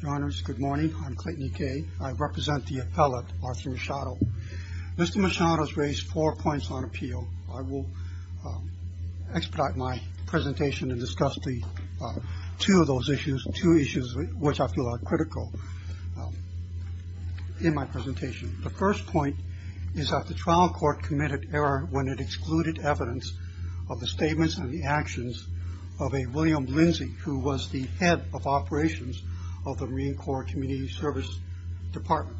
Your honors, good morning. I'm Clayton E. Kaye. I represent the appellate, Arthur Machado. Mr. Machado has raised four points on appeal. I will expedite my presentation and discuss two of those issues, two issues which I feel are critical in my presentation. The first point is that the trial court committed error when it excluded evidence of the statements and the actions of a William Lindsay who was the head of operations of the Marine Corps Community Service Department.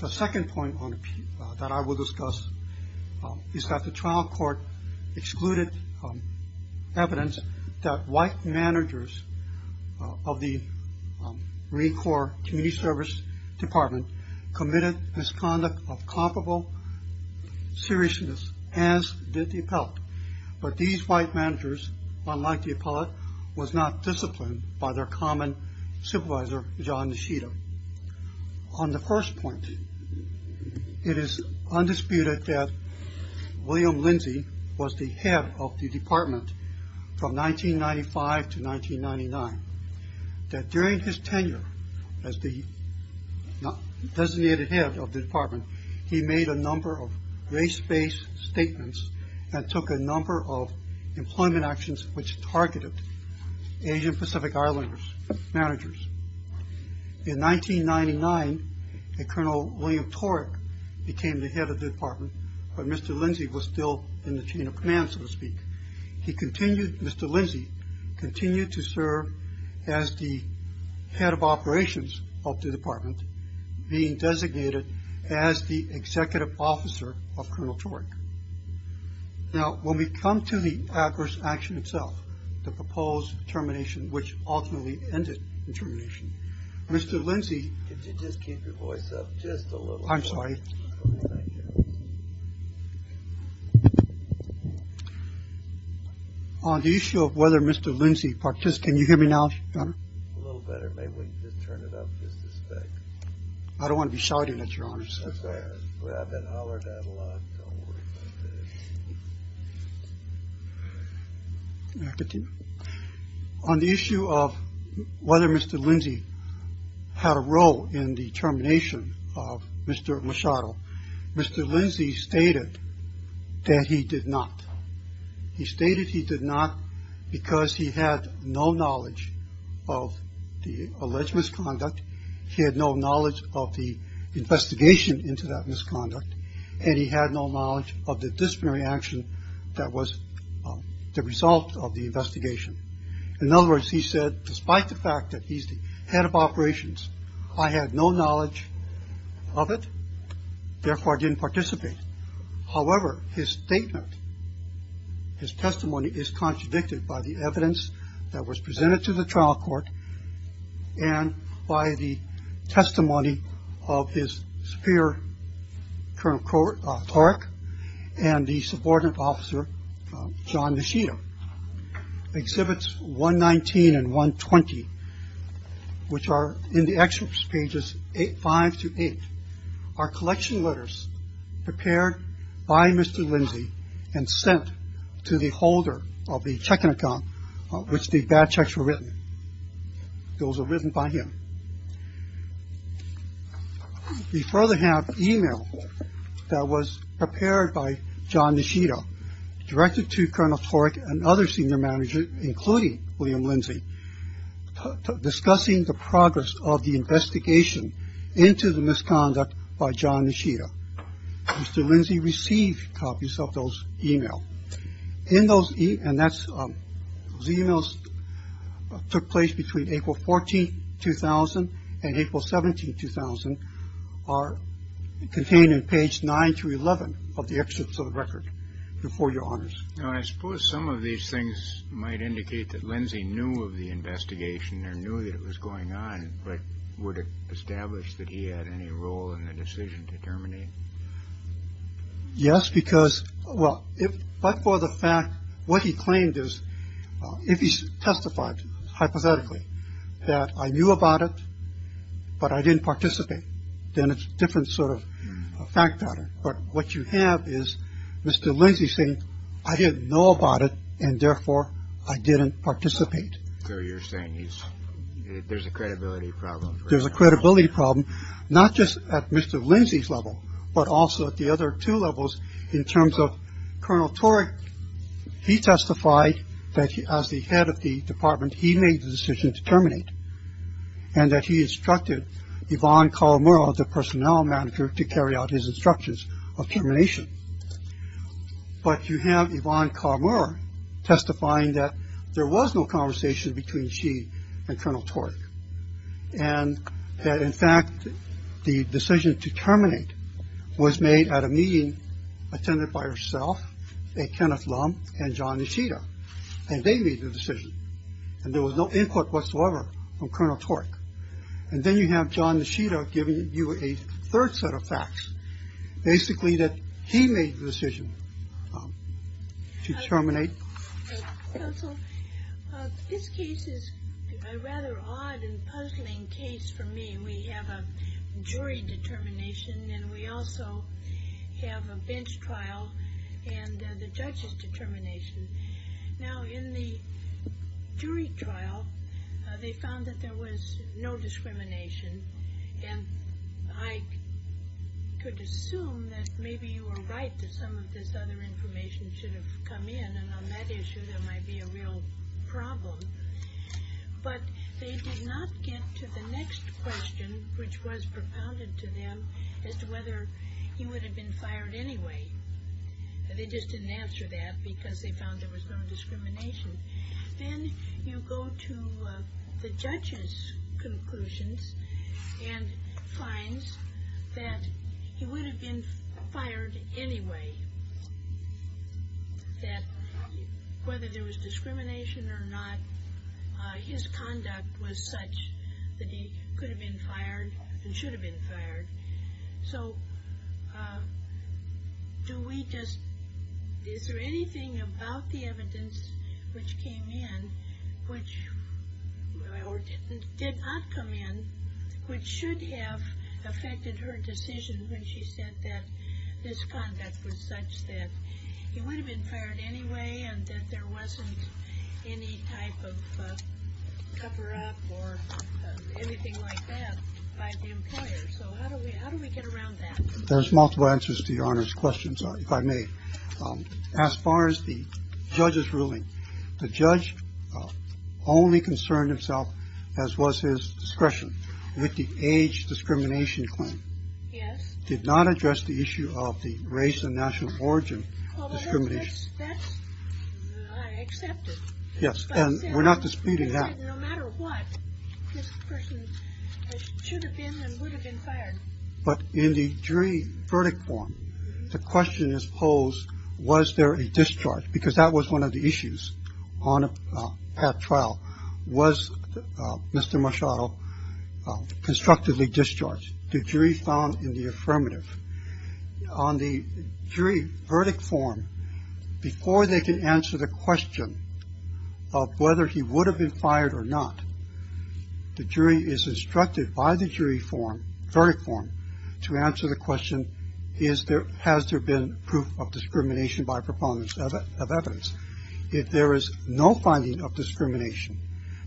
The second point that I will discuss is that the trial court excluded evidence that white managers of the Marine Corps Community Service Department committed misconduct of comparable seriousness as did the appellate, but these white managers, unlike the appellate, was not disciplined by their common supervisor, John Nishida. On the first point, it is undisputed that William Lindsay was the head of the department from 1995 to 1999, that during his tenure as the designated head of the department, he made a number of race-based statements and took a number of employment actions which targeted Asian Pacific Islanders managers. In 1999, Colonel William Torek became the head of the department, but Mr. Lindsay was still in the chain of command, so to speak. He continued, Mr. Lindsay continued to serve as the head of operations of the department, being designated as the executive officer of Colonel Torek. Now, when we come to the adverse action itself, the proposed termination, which ultimately ended the termination, Mr. Lindsay... I'm sorry. On the issue of whether Mr. Lindsay... Can you hear me now, Your Honor? A little better. Maybe we can just turn it up just a stick. I don't want to be shouting at Your Honor. I've been hollered at a lot. Don't worry about that. On the issue of whether Mr. Lindsay had a role in the termination of Mr. Machado, Mr. Lindsay stated that he did not. He stated he did not because he had no knowledge of the alleged misconduct. He had no knowledge of the investigation into that misconduct. And he had no knowledge of the disciplinary action that was the result of the investigation. In other words, he said, despite the fact that he's the head of operations, I had no knowledge of it. Therefore, I didn't participate. However, his statement, his testimony, is contradicted by the evidence that was presented to the trial court and by the testimony of his superior, Colonel Torek, and the subordinate officer, John Machado. Exhibits 119 and 120, which are in the excerpts pages five to eight, are collection letters prepared by Mr. Lindsay and sent to the holder of the checking account, which the bad checks were written. Those are written by him. We further have email that was prepared by John Machado, directed to Colonel Torek and other senior managers, including William Lindsay, discussing the progress of the investigation into the misconduct by John Machado. Mr. Lindsay received copies of those email in those. And that's the emails took place between April 14, 2000 and April 17, 2000, are contained in page nine through 11 of the excerpts of the record before your honors. Now, I suppose some of these things might indicate that Lindsay knew of the investigation or knew that it was going on, but would establish that he had any role in the decision to terminate. Yes, because, well, if but for the fact what he claimed is if he testified hypothetically that I knew about it, but I didn't participate, then it's different sort of fact pattern. But what you have is Mr. Lindsay saying I didn't know about it and therefore I didn't participate. So you're saying there's a credibility problem. There's a credibility problem, not just at Mr. Lindsay's level, but also at the other two levels in terms of Colonel Torek. He testified that as the head of the department, he made the decision to terminate and that he instructed Yvonne Colomero, the personnel manager, to carry out his instructions of termination. But you have Yvonne Colomero testifying that there was no conversation between she and Colonel Torek. And that, in fact, the decision to terminate was made at a meeting attended by herself, Kenneth Lum and John Nishida, and they made the decision. And there was no input whatsoever from Colonel Torek. And then you have John Nishida giving you a third set of facts, basically that he made the decision to terminate. Counsel, this case is a rather odd and puzzling case for me. We have a jury determination and we also have a bench trial and the judge's determination. Now, in the jury trial, they found that there was no discrimination. And I could assume that maybe you were right that some of this other information should have come in. And on that issue, there might be a real problem. But they did not get to the next question, which was propounded to them as to whether he would have been fired anyway. They just didn't answer that because they found there was no discrimination. Then you go to the judge's conclusions and finds that he would have been fired anyway. That whether there was discrimination or not, his conduct was such that he could have been fired and should have been fired. So, do we just, is there anything about the evidence which came in, or did not come in, which should have affected her decision when she said that this conduct was such that he would have been fired anyway and that there wasn't any type of cover up or anything like that by the employer. So how do we how do we get around that? There's multiple answers to your Honor's questions, if I may. As far as the judge's ruling, the judge only concerned himself, as was his discretion, with the age discrimination claim. Yes. Did not address the issue of the race and national origin discrimination. Yes. And we're not disputing that. But in the jury verdict form, the question is posed, was there a discharge? Because that was one of the issues on a trial. Was Mr. Machado constructively discharged to jury found in the affirmative on the jury verdict form? Before they can answer the question of whether he would have been fired or not, the jury is instructed by the jury form, verdict form, to answer the question, has there been proof of discrimination by proponents of evidence? If there is no finding of discrimination,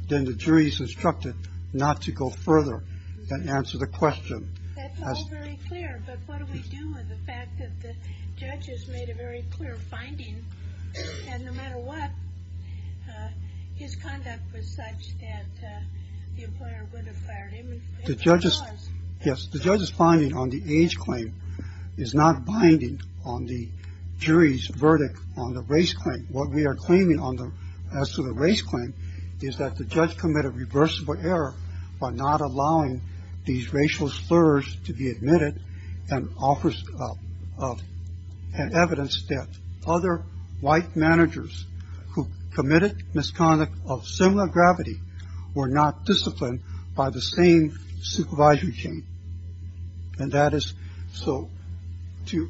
then the jury is instructed not to go further and answer the question. That's all very clear, but what do we do with the fact that the judge has made a very clear finding? And no matter what, his conduct was such that the employer would have fired him if he was. Yes. The judge's finding on the age claim is not binding on the jury's verdict on the race claim. What we are claiming as to the race claim is that the judge committed reversible error by not allowing these racial slurs to be admitted and offers an evidence that other white managers who committed misconduct of similar gravity were not disciplined by the same supervisory chain. And that is so to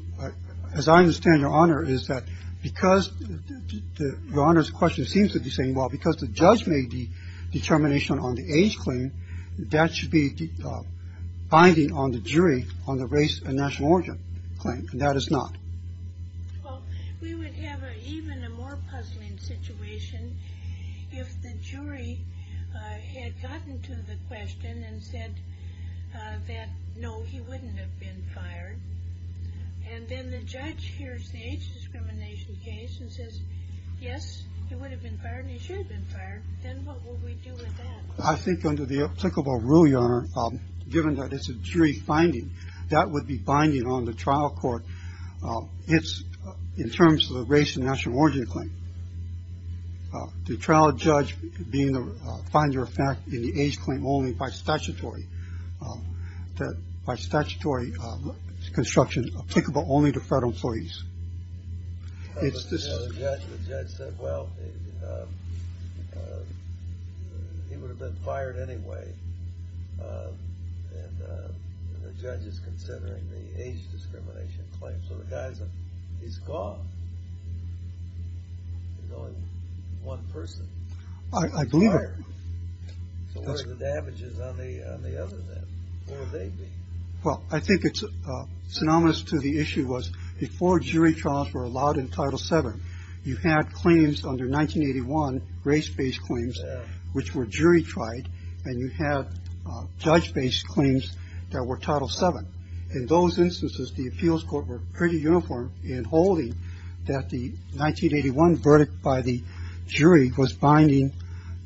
as I understand, Your Honor, is that because the Honor's question seems to be saying, well, because the judge made the determination on the age claim, that should be binding on the jury on the race and national origin claim. And that is not. Well, we would have even a more puzzling situation if the jury had gotten to the question and said that, no, he wouldn't have been fired. And then the judge hears the age discrimination case and says, yes, he would have been fired, he should have been fired. Then what would we do with that? I think under the applicable rule, Your Honor, given that it's a jury finding, that would be binding on the trial court in terms of the race and national origin claim. The trial judge being the finder of fact in the age claim only by statutory, by statutory construction applicable only to federal employees. The judge said, well, he would have been fired anyway. And the judge is considering the age discrimination claim. So the guy, he's gone. There's only one person. I believe it. So what are the damages on the other then? What would they be? Well, I think it's synonymous to the issue was before jury trials were allowed in Title VII, you had claims under 1981, race-based claims, which were jury-tried, and you had judge-based claims that were Title VII. In those instances, the appeals court were pretty uniform in holding that the 1981 verdict by the jury was binding.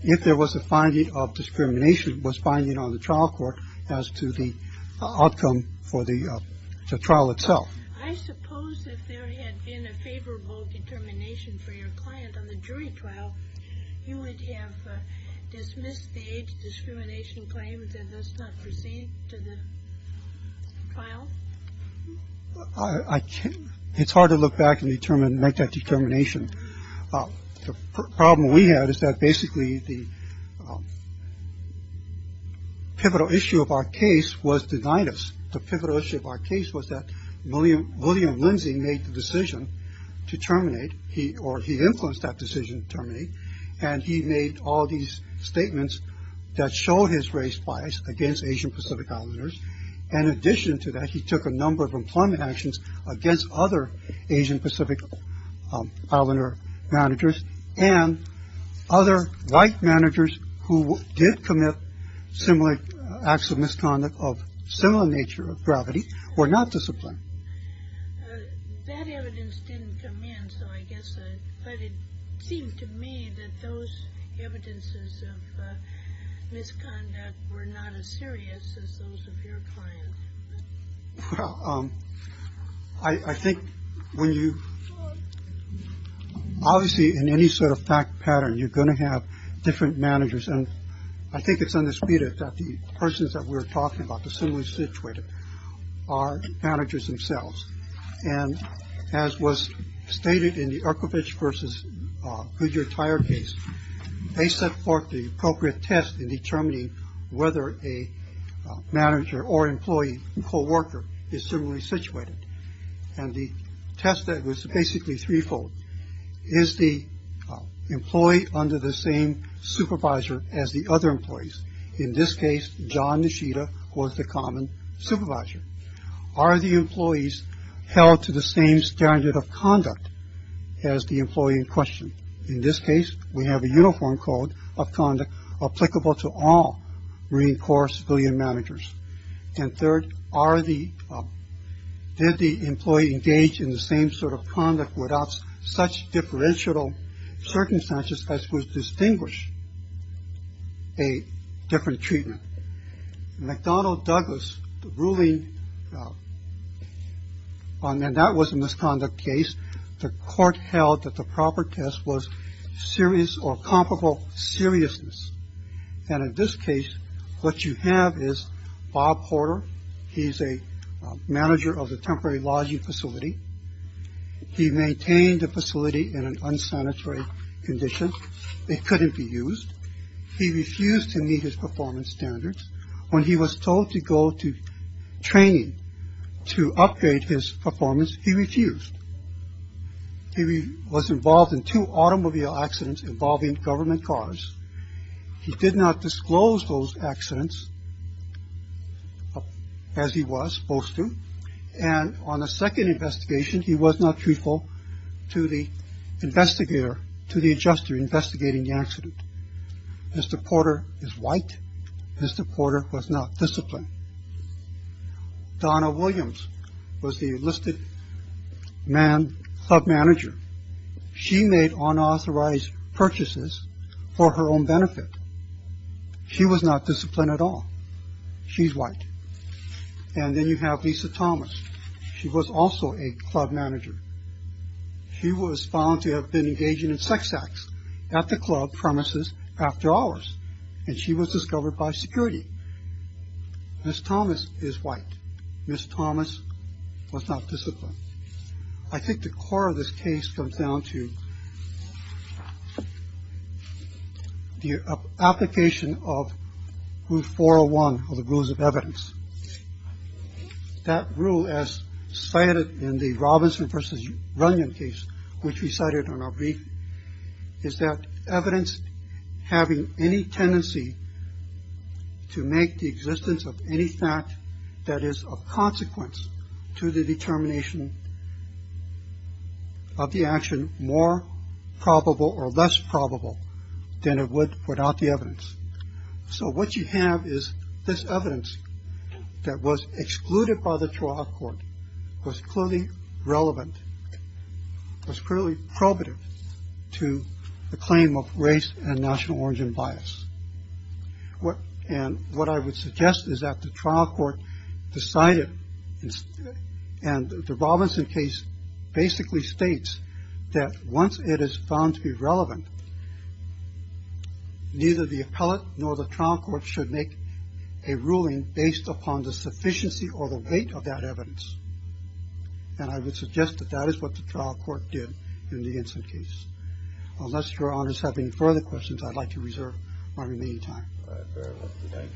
If there was a finding of discrimination, it was binding on the trial court as to the outcome for the trial itself. I suppose if there had been a favorable determination for your client on the jury trial, you would have dismissed the age discrimination claim and thus not proceed to the trial? I can't. It's hard to look back and determine, make that determination. The problem we had is that basically the pivotal issue of our case was denied us. The pivotal issue of our case was that William. William Lindsay made the decision to terminate. He or he influenced that decision to terminate. And he made all these statements that showed his race bias against Asian Pacific Islanders. In addition to that, he took a number of employment actions against other Asian Pacific Islander managers and other white managers who did commit similar acts of misconduct of similar nature of gravity were not disciplined. That evidence didn't come in. So I guess it seemed to me that those evidences of misconduct were not as serious as those of your client. I think when you obviously in any sort of fact pattern, you're going to have different managers. And I think it's undisputed that the persons that we're talking about, the similar situated are managers themselves. And as was stated in the archivist versus your entire case, they set forth the appropriate test in determining whether a manager or employee co-worker is similarly situated. And the test that was basically threefold is the employee under the same supervisor as the other employees. In this case, John Nishida was the common supervisor. Are the employees held to the same standard of conduct as the employee in question? In this case, we have a uniform code of conduct applicable to all Marine Corps civilian managers. And third, are the did the employee engage in the same sort of conduct without such differential circumstances as would distinguish a different treatment? McDonald Douglas ruling on that was a misconduct case. The court held that the proper test was serious or comparable seriousness. And in this case, what you have is Bob Porter. He's a manager of the temporary lodging facility. He maintained the facility in an unsanitary condition. It couldn't be used. He refused to meet his performance standards. When he was told to go to training to upgrade his performance, he refused. He was involved in two automobile accidents involving government cars. He did not disclose those accidents as he was supposed to. And on a second investigation, he was not truthful to the investigator, to the adjuster investigating the accident. Mr. Porter is white. Mr. Porter was not disciplined. Donna Williams was the enlisted man club manager. She made unauthorized purchases for her own benefit. She was not disciplined at all. She's white. And then you have Lisa Thomas. She was also a club manager. She was found to have been engaging in sex acts at the club premises after hours. And she was discovered by security. Ms. Thomas is white. Ms. Thomas was not disciplined. I think the core of this case comes down to the application of Rule 401 of the Rules of Evidence. That rule, as cited in the Robinson versus Runyon case, which we cited on our brief, is that evidence having any tendency to make the existence of any fact that is of consequence to the determination. Of the action, more probable or less probable than it would without the evidence. So what you have is this evidence that was excluded by the trial court was clearly relevant, was clearly probative to the claim of race and national origin bias. And what I would suggest is that the trial court decided and the Robinson case basically states that once it is found to be relevant, neither the appellate nor the trial court should make a ruling based upon the sufficiency or the weight of that evidence. And I would suggest that that is what the trial court did in the incident case. Unless your honors have any further questions, I'd like to reserve my remaining time. All right, very well. Thank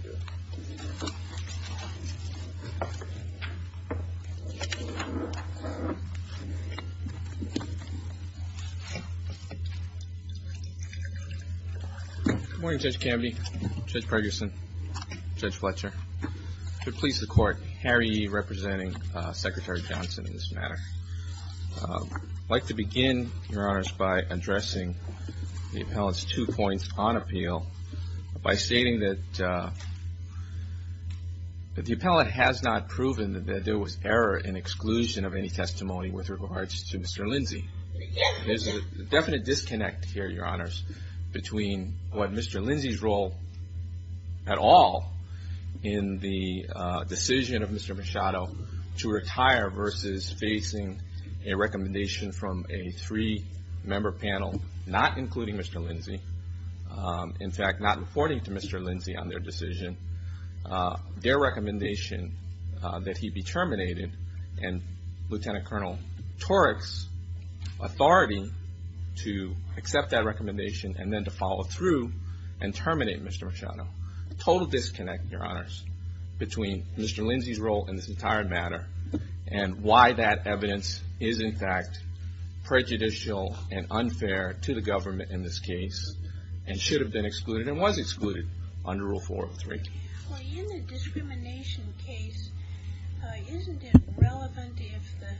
you. Good morning, Judge Canby, Judge Pregerson, Judge Fletcher. To please the court, Harry E. representing Secretary Johnson in this matter. I'd like to begin, your honors, by addressing the appellate's two points on appeal. By stating that the appellate has not proven that there was error in exclusion of any testimony with regards to Mr. Lindsay. There's a definite disconnect here, your honors, between what Mr. Lindsay's role at all in the decision of Mr. Machado to retire versus facing a recommendation from a three-member panel not including Mr. Lindsay. In fact, not reporting to Mr. Lindsay on their decision. Their recommendation that he be terminated and Lieutenant Colonel Torek's authority to accept that recommendation and then to follow through and terminate Mr. Machado. Total disconnect, your honors, between Mr. Lindsay's role in this entire matter and why that evidence is in fact prejudicial and unfair to the government in this case and should have been excluded and was excluded under Rule 403. Well, in the discrimination case, isn't it relevant if the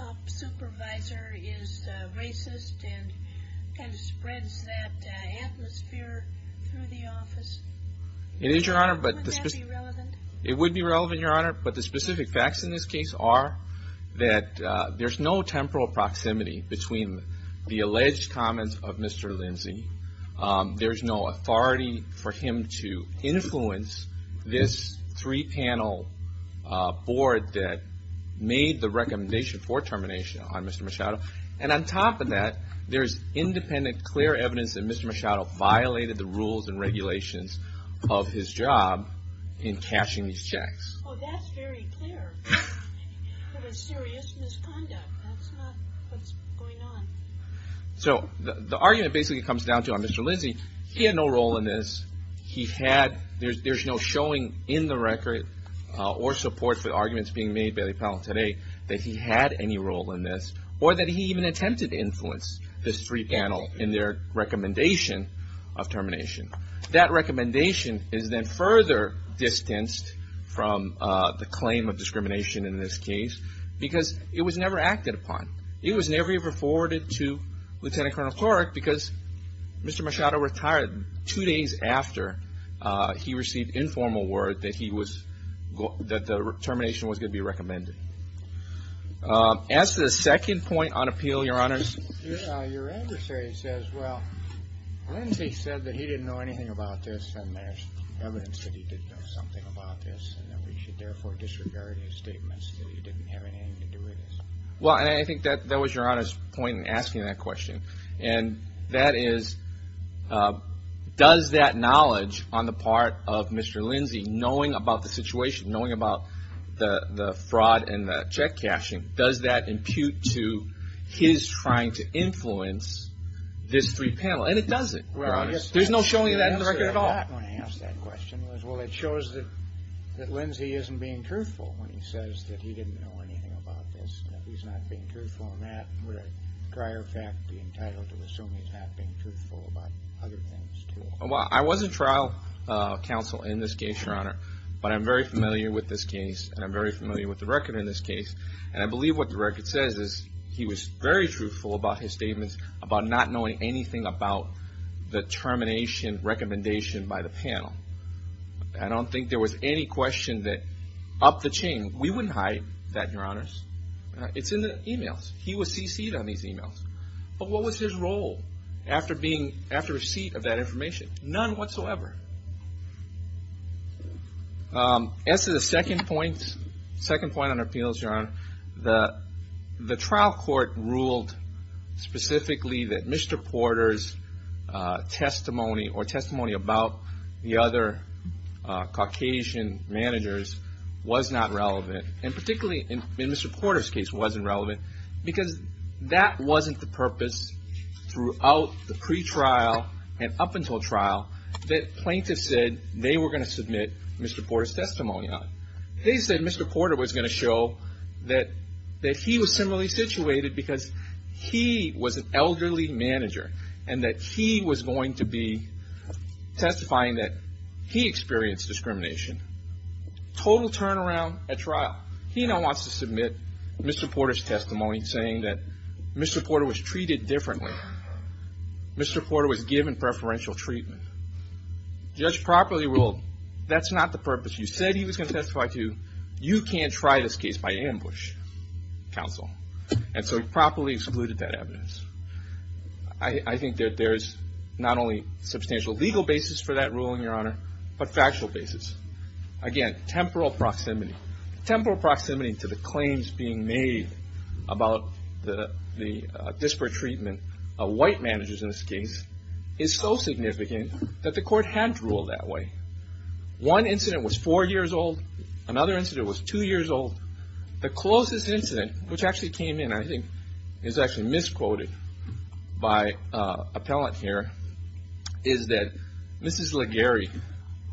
top supervisor is racist and kind of spreads that atmosphere through the office? It is, your honor. Would that be relevant? It would be relevant, your honor. But the specific facts in this case are that there's no temporal proximity between the alleged comments of Mr. Lindsay. There's no authority for him to influence this three-panel board that made the recommendation for termination on Mr. Machado. And on top of that, there's independent, clear evidence that Mr. Machado violated the rules and regulations of his job in cashing these checks. Oh, that's very clear. That is serious misconduct. That's not what's going on. So the argument basically comes down to, on Mr. Lindsay, he had no role in this. He had – there's no showing in the record or support for the arguments being made by the panel today that he had any role in this or that he even attempted to influence this three-panel in their recommendation of termination. That recommendation is then further distanced from the claim of discrimination in this case because it was never acted upon. It was never reported to Lieutenant Colonel Clark because Mr. Machado retired two days after he received informal word that he was – that the termination was going to be recommended. As to the second point on appeal, your honors. Your adversary says, well, Lindsay said that he didn't know anything about this, and there's evidence that he did know something about this, and that we should therefore disregard his statements that he didn't have anything to do with this. Well, and I think that was your honors' point in asking that question. And that is, does that knowledge on the part of Mr. Lindsay, knowing about the situation, knowing about the fraud and the check cashing, does that impute to his trying to influence this three-panel? And it doesn't, your honors. There's no showing of that in the record at all. Well, it shows that Lindsay isn't being truthful when he says that he didn't know anything about this, and that he's not being truthful in that. Would a prior fact be entitled to assume he's not being truthful about other things, too? Well, I was a trial counsel in this case, your honor, but I'm very familiar with this case, and I'm very familiar with the record in this case. And I believe what the record says is he was very truthful about his statements, about not knowing anything about the termination recommendation by the panel. I don't think there was any question that upped the chain. We wouldn't hide that, your honors. It's in the emails. He was CC'd on these emails. But what was his role after receipt of that information? None whatsoever. As to the second point, second point on appeals, your honor, the trial court ruled specifically that Mr. Porter's testimony, or testimony about the other Caucasian managers was not relevant, and particularly in Mr. Porter's case wasn't relevant, because that wasn't the purpose throughout the pretrial and up until trial, that plaintiffs said they were going to submit Mr. Porter's testimony on. They said Mr. Porter was going to show that he was similarly situated because he was an elderly manager, and that he was going to be testifying that he experienced discrimination. Total turnaround at trial. He now wants to submit Mr. Porter's testimony saying that Mr. Porter was treated differently. Mr. Porter was given preferential treatment. Judge properly ruled that's not the purpose. You said he was going to testify to you. You can't try this case by ambush, counsel. And so he properly excluded that evidence. I think that there is not only substantial legal basis for that ruling, your honor, but factual basis. Again, temporal proximity. Temporal proximity to the claims being made about the disparate treatment of white managers in this case is so significant that the court had to rule that way. One incident was four years old. Another incident was two years old. The closest incident, which actually came in, I think, is actually misquoted by an appellant here, is that Mrs. Laguerre,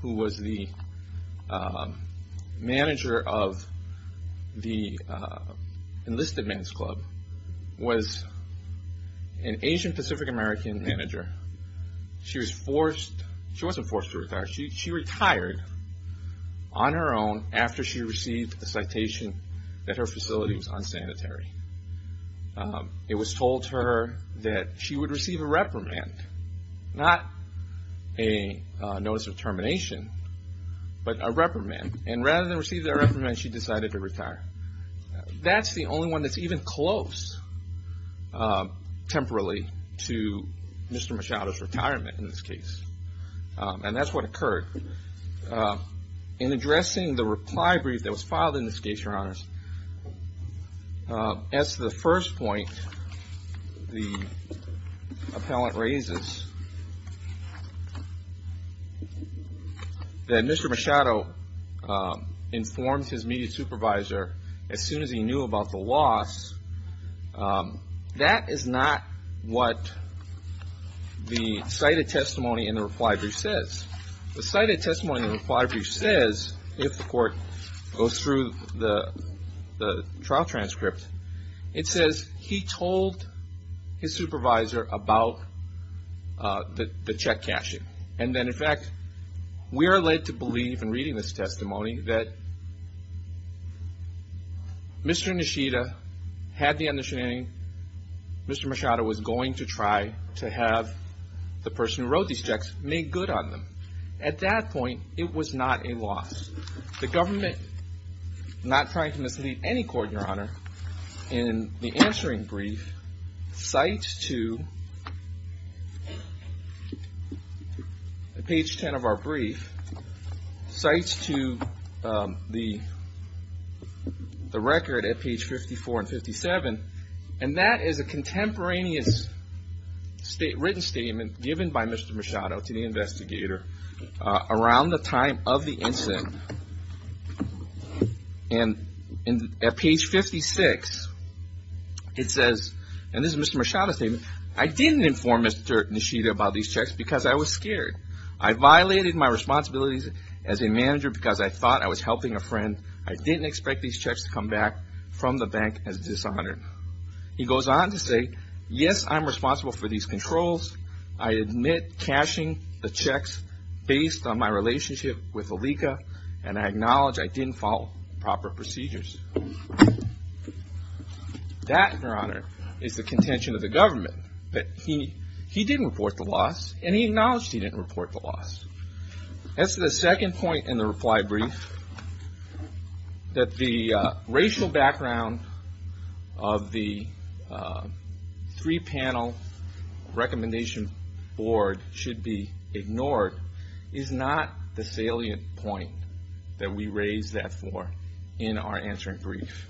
who was the manager of the enlisted men's club, was an Asian Pacific American manager. She was forced, she wasn't forced to retire. She retired on her own after she received the citation that her facility was unsanitary. It was told to her that she would receive a reprimand, not a notice of termination, but a reprimand. And rather than receive that reprimand, she decided to retire. That's the only one that's even close, temporarily, to Mr. Machado's retirement in this case. And that's what occurred. In addressing the reply brief that was filed in this case, Your Honors, as to the first point the appellant raises, that Mr. Machado informed his media supervisor as soon as he knew about the loss, that is not what the cited testimony in the reply brief says. The cited testimony in the reply brief says, if the court goes through the trial transcript, it says he told his supervisor about the check cashing. And then, in fact, we are led to believe, in reading this testimony, that Mr. Nishida had the understanding Mr. Machado was going to try to have the person who wrote these checks make good on them. At that point, it was not a loss. The government, not trying to mislead any court, Your Honor, in the answering brief, cites to page 10 of our brief, cites to the record at page 54 and 57, and that is a contemporaneous written statement given by Mr. Machado to the investigator around the time of the incident. And at page 56, it says, and this is Mr. Machado's statement, I didn't inform Mr. Nishida about these checks because I was scared. I violated my responsibilities as a manager because I thought I was helping a friend. I didn't expect these checks to come back from the bank as dishonored. He goes on to say, yes, I'm responsible for these controls. I admit cashing the checks based on my relationship with Alika, and I acknowledge I didn't follow proper procedures. That, Your Honor, is the contention of the government, that he didn't report the loss, and he acknowledged he didn't report the loss. That's the second point in the reply brief, that the racial background of the three-panel recommendation board should be ignored is not the salient point that we raise that for in our answering brief.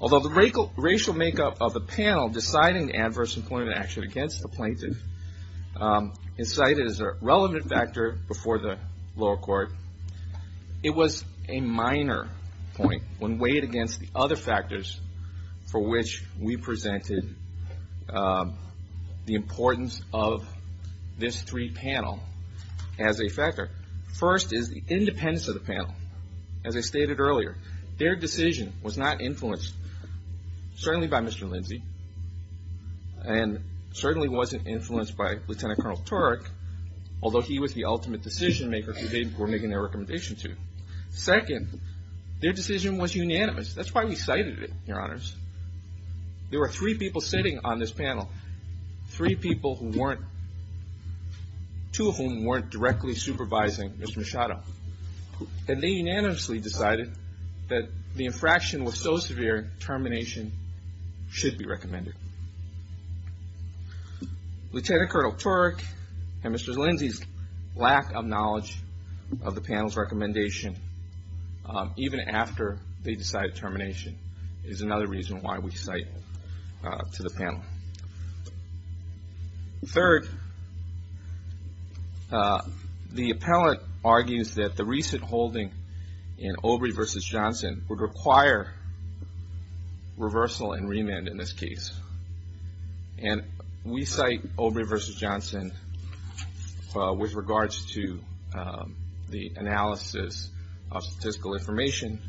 Although the racial makeup of the panel deciding adverse employment action against the plaintiff is cited as a relevant factor before the lower court, it was a minor point when weighed against the other factors for which we presented the importance of this three-panel as a factor. First is the independence of the panel. As I stated earlier, their decision was not influenced, certainly by Mr. Lindsey, and certainly wasn't influenced by Lieutenant Colonel Turek, although he was the ultimate decision-maker who they were making their recommendation to. Second, their decision was unanimous. That's why we cited it, Your Honors. There were three people sitting on this panel, two of whom weren't directly supervising Mr. Machado, and they unanimously decided that the infraction was so severe, termination should be recommended. Lieutenant Colonel Turek and Mr. Lindsey's lack of knowledge of the panel's recommendation, even after they decided termination, is another reason why we cite it to the panel. Third, the appellant argues that the recent holding in Obrey v. Johnson would require reversal and remand in this case. And we cite Obrey v. Johnson with regards to the analysis of statistical information.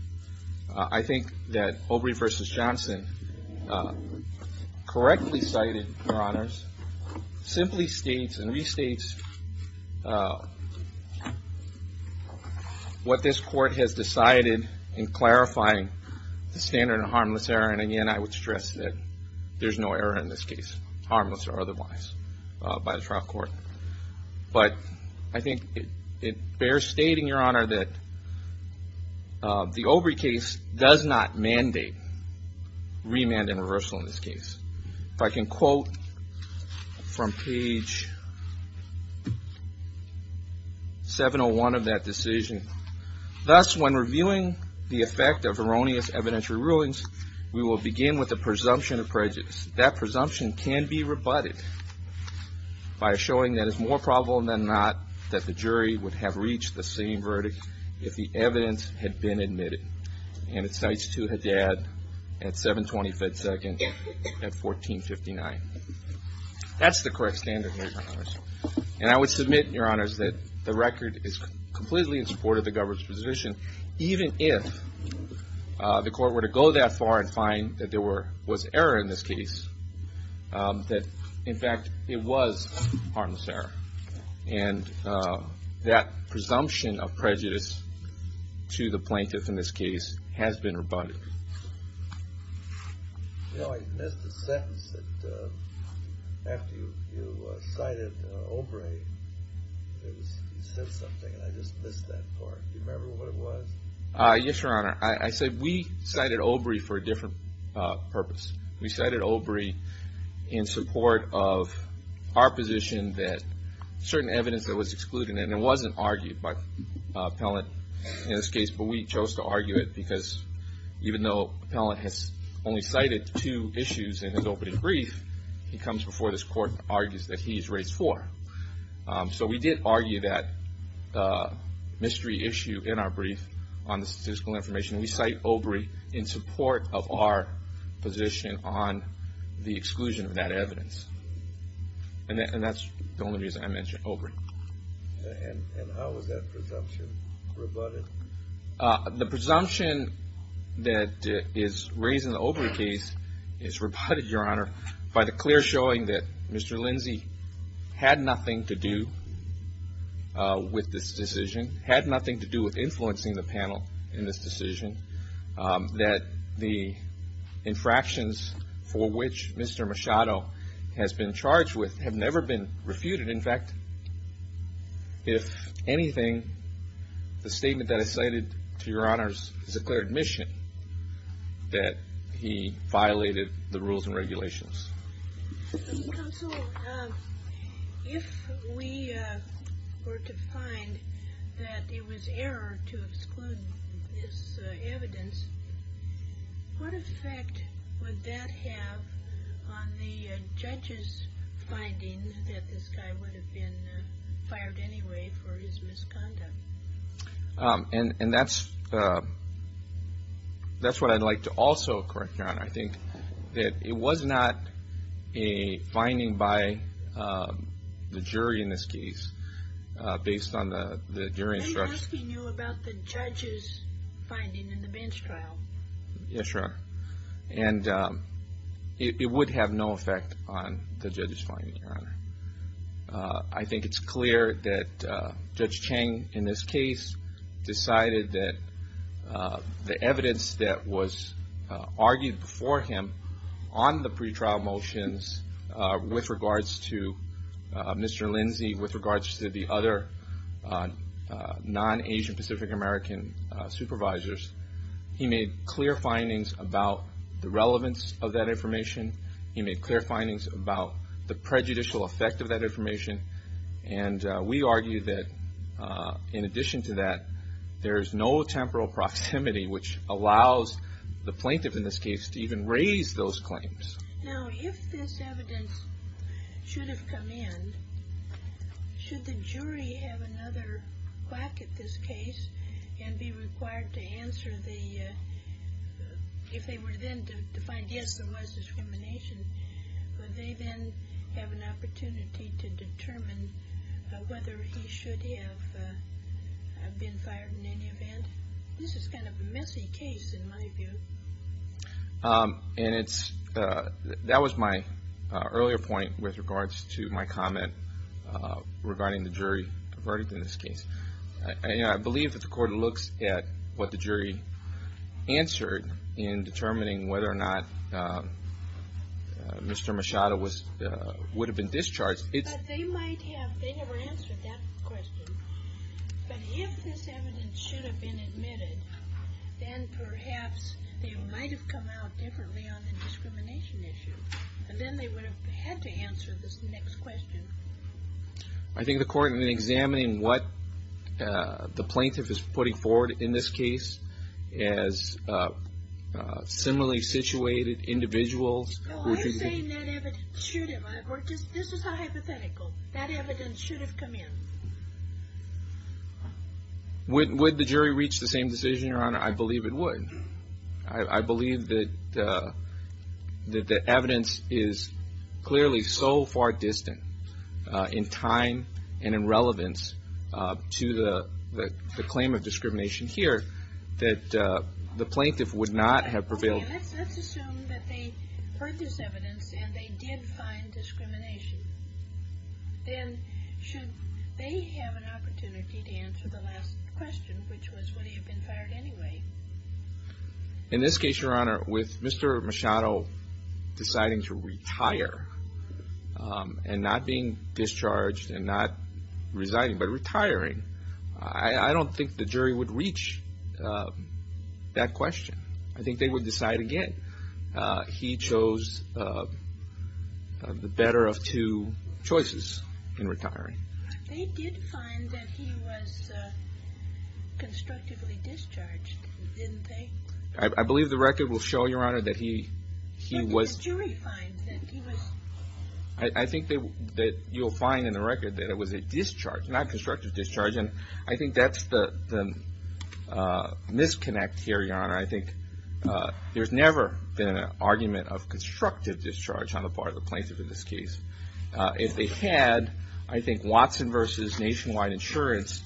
I think that Obrey v. Johnson, correctly cited, Your Honors, simply states and restates what this court has decided in clarifying the standard of harmless error. And again, I would stress that there's no error in this case, harmless or otherwise, by the trial court. But I think it bears stating, Your Honor, that the Obrey case does not mandate remand and reversal in this case. If I can quote from page 701 of that decision, thus when reviewing the effect of erroneous evidentiary rulings, we will begin with the presumption of prejudice. That presumption can be rebutted by showing that it's more probable than not that the jury would have reached the same verdict if the evidence had been admitted. And it cites to Haddad at 725 seconds at 1459. That's the correct standard, Your Honors. And I would submit, Your Honors, that the record is completely in support of the government's position, even if the court were to go that far and find that there was error in this case, that, in fact, it was harmless error. And that presumption of prejudice to the plaintiff in this case has been rebutted. You know, I missed a sentence that after you cited Obrey, you said something, and I just missed that part. Do you remember what it was? Yes, Your Honor. I said we cited Obrey for a different purpose. We cited Obrey in support of our position that certain evidence that was excluded, and it wasn't argued by the appellant in this case, but we chose to argue it because even though the appellant has only cited two issues in his opening brief, he comes before this court and argues that he is raised for. So we did argue that mystery issue in our brief on the statistical information, and we cite Obrey in support of our position on the exclusion of that evidence. And that's the only reason I mentioned Obrey. And how is that presumption rebutted? The presumption that is raised in the Obrey case is rebutted, Your Honor, by the clear showing that Mr. Lindsay had nothing to do with this decision, had nothing to do with influencing the panel in this decision, that the infractions for which Mr. Machado has been charged with have never been refuted. In fact, if anything, the statement that I cited to Your Honors is a clear admission that he violated the rules and regulations. Counsel, if we were to find that it was error to exclude this evidence, what effect would that have on the judge's finding that this guy would have been fired anyway for his misconduct? And that's what I'd like to also correct, Your Honor. I think that it was not a finding by the jury in this case based on the jury instructions. I'm asking you about the judge's finding in the bench trial. Yes, Your Honor. And it would have no effect on the judge's finding, Your Honor. I think it's clear that Judge Chang in this case decided that the evidence that was argued before him on the pretrial motions with regards to Mr. Lindsay, with regards to the other non-Asian Pacific American supervisors, he made clear findings about the relevance of that information. He made clear findings about the prejudicial effect of that information. And we argue that in addition to that, there is no temporal proximity which allows the plaintiff in this case to even raise those claims. Now, if this evidence should have come in, should the jury have another quack at this case and be required to answer the – if they were then to find, yes, there was discrimination, would they then have an opportunity to determine whether he should have been fired in any event? This is kind of a messy case in my view. And it's – that was my earlier point with regards to my comment regarding the jury verdict in this case. I believe that the court looks at what the jury answered in determining whether or not Mr. Machado would have been discharged. But they might have – they never answered that question. But if this evidence should have been admitted, then perhaps they might have come out differently on the discrimination issue. And then they would have had to answer this next question. I think the court, in examining what the plaintiff is putting forward in this case, as similarly situated individuals – No, I'm saying that evidence should have. This is hypothetical. That evidence should have come in. Would the jury reach the same decision, Your Honor? I believe it would. I believe that the evidence is clearly so far distant in time and in relevance to the claim of discrimination here that the plaintiff would not have prevailed. Let's assume that they heard this evidence and they did find discrimination. Then should they have an opportunity to answer the last question, which was would he have been fired anyway? In this case, Your Honor, with Mr. Machado deciding to retire and not being discharged and not resigning but retiring, I don't think the jury would reach that question. I think they would decide again. He chose the better of two choices in retiring. They did find that he was constructively discharged, didn't they? I believe the record will show, Your Honor, that he was – How could the jury find that he was – I think that you'll find in the record that it was a discharge, not constructive discharge. And I think that's the misconnect here, Your Honor. I think there's never been an argument of constructive discharge on the part of the plaintiff in this case. If they had, I think, Watson v. Nationwide Insurance,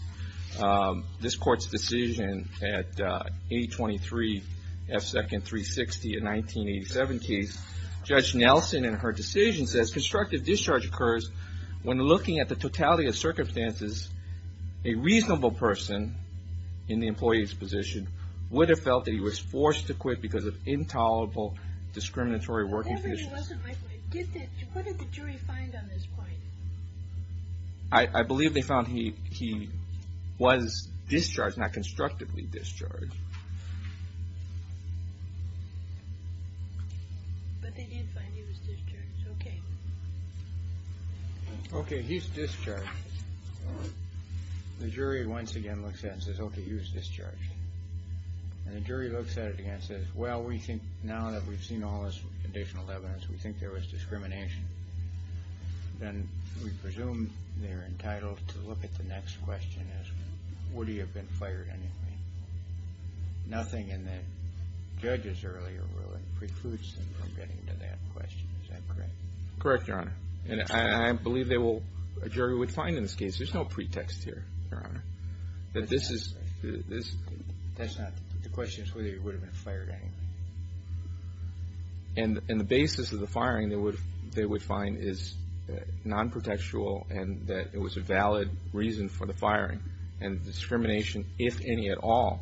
this Court's decision at 823 F. Second 360 in 1987 case, Judge Nelson in her decision says constructive discharge occurs when looking at the totality of circumstances a reasonable person in the employee's position would have felt that he was forced to quit because of intolerable discriminatory working conditions. Whatever he wasn't, Michael, what did the jury find on this point? I believe they found he was discharged, not constructively discharged. But they did find he was discharged. Okay. Okay, he's discharged. The jury once again looks at it and says, okay, he was discharged. And the jury looks at it again and says, well, we think now that we've seen all this additional evidence, we think there was discrimination. Then we presume they're entitled to look at the next question as, would he have been fired anyway? Nothing in the judge's earlier ruling precludes them from getting to that question. Is that correct? Correct, Your Honor. And I believe they will, a jury would find in this case, there's no pretext here, Your Honor, that this is... That's not, the question is whether he would have been fired anyway. And the basis of the firing they would find is non-pretextual and that it was a valid reason for the firing. And discrimination, if any at all,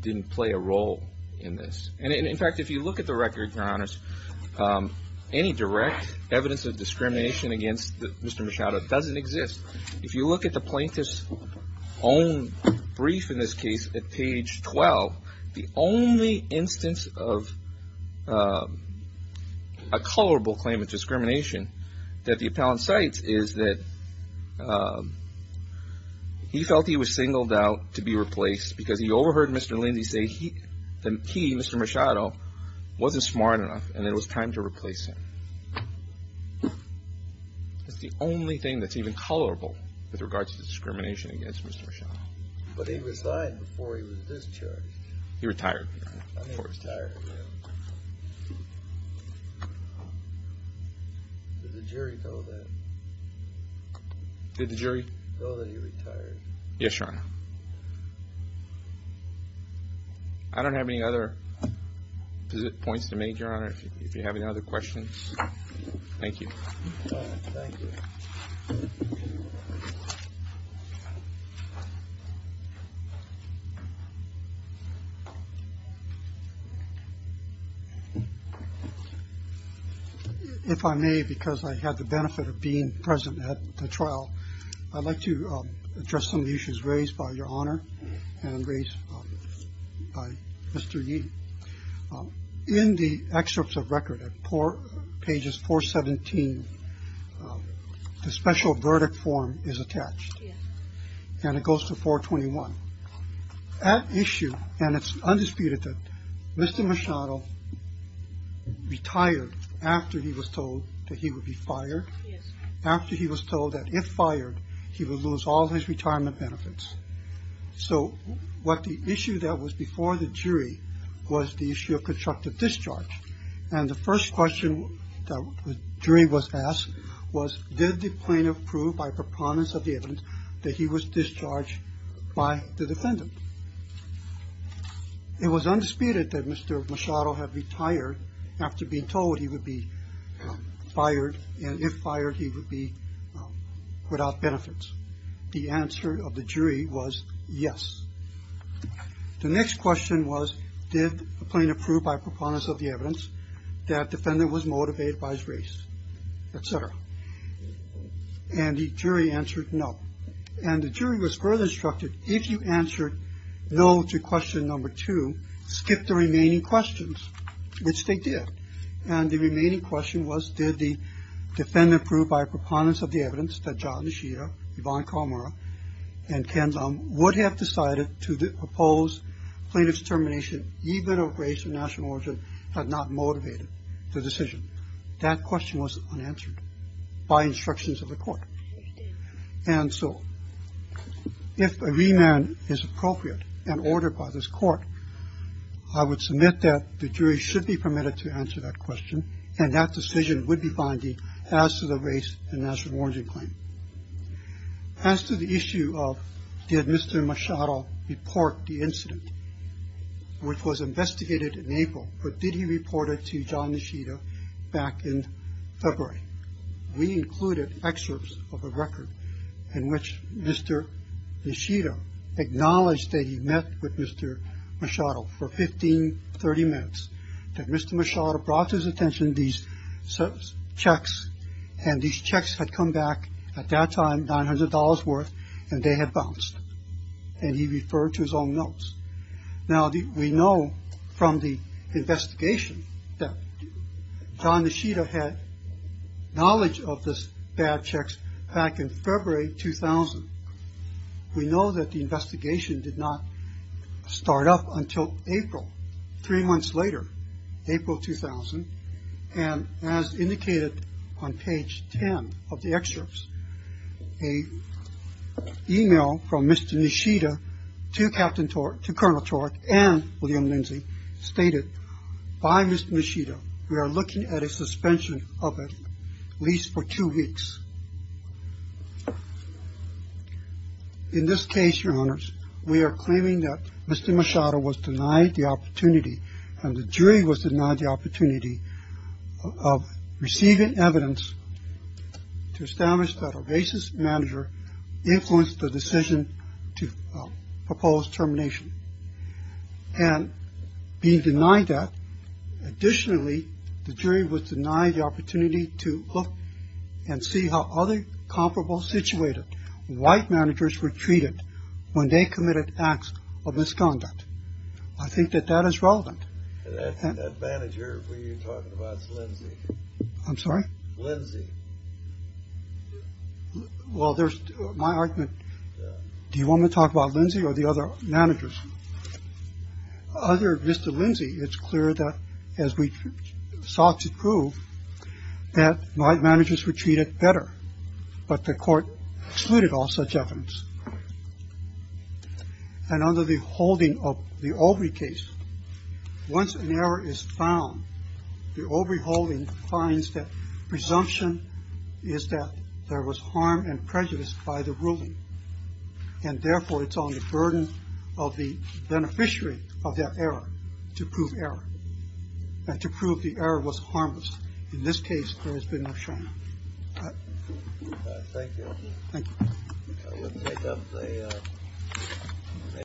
didn't play a role in this. And in fact, if you look at the record, Your Honors, any direct evidence of discrimination against Mr. Machado doesn't exist. If you look at the plaintiff's own brief in this case at page 12, the only instance of a colorable claim of discrimination that the appellant cites is that he felt he was singled out to be replaced because he overheard Mr. Lindsay say he, Mr. Machado, wasn't smart enough and it was time to replace him. That's the only thing that's even colorable with regards to discrimination against Mr. Machado. But he resigned before he was discharged. He retired. He retired, yeah. Did the jury know that? Did the jury... Know that he retired? Yes, Your Honor. I don't have any other points to make, Your Honor, if you have any other questions. Thank you. If I may, because I had the benefit of being present at the trial, I'd like to address some of the issues raised by Your Honor and raised by Mr. Yee. In the excerpts of record at pages 417, the special verdict form is attached. Yes. And it goes to 421. That issue, and it's undisputed that Mr. Machado retired after he was told that he would be fired. Yes. After he was told that if fired, he would lose all his retirement benefits. So what the issue that was before the jury was the issue of constructive discharge. And the first question that the jury was asked was, did the plaintiff prove by preponderance of the evidence that he was discharged by the defendant? It was undisputed that Mr. Machado had retired after being told he would be fired, and if fired, he would be without benefits. The answer of the jury was yes. The next question was, did the plaintiff prove by preponderance of the evidence that the defendant was motivated by his race, et cetera? And the jury answered no. And the jury was further instructed, if you answered no to question number two, skip the remaining questions, which they did. And the remaining question was, did the defendant prove by preponderance of the evidence that John Nishida, Yvonne Calamara, and Ken Lum would have decided to oppose plaintiff's termination even if race and national origin had not motivated the decision? That question was unanswered by instructions of the Court. And so if a remand is appropriate and ordered by this Court, I would submit that the jury should be permitted to answer that question, and that decision would be binding as to the race and national origin claim. As to the issue of did Mr. Machado report the incident, which was investigated in April, but did he report it to John Nishida back in February? We included excerpts of a record in which Mr. Nishida acknowledged that he met with Mr. Machado for 15, 30 minutes, that Mr. Machado brought to his attention these checks, and these checks had come back at that time $900 worth, and they had bounced. And he referred to his own notes. Now, we know from the investigation that John Nishida had knowledge of these bad checks back in February 2000. We know that the investigation did not start up until April. Three months later, April 2000, and as indicated on page 10 of the excerpts, a e-mail from Mr. Nishida to Captain Tork, to Colonel Tork and William Lindsay stated, by Mr. Nishida, we are looking at a suspension of it at least for two weeks. In this case, Your Honors, we are claiming that Mr. Machado was denied the opportunity and the jury was denied the opportunity of receiving evidence to establish that a racist manager influenced the decision to propose termination. And being denied that, additionally, the jury was denied the opportunity to look and see how other comparable situated white managers were treated when they committed acts of misconduct. I think that that is relevant. And that manager we are talking about is Lindsay. I'm sorry? Lindsay. Well, there's my argument. Do you want me to talk about Lindsay or the other managers? Under Mr. Lindsay, it's clear that as we sought to prove that white managers were treated better, but the Court excluded all such evidence. And under the holding of the Obrey case, once an error is found, the Obrey holding finds that presumption is that there was harm and prejudice by the ruling. And, therefore, it's on the burden of the beneficiary of that error to prove error and to prove the error was harmless. In this case, there has been no shame. Thank you. Thank you.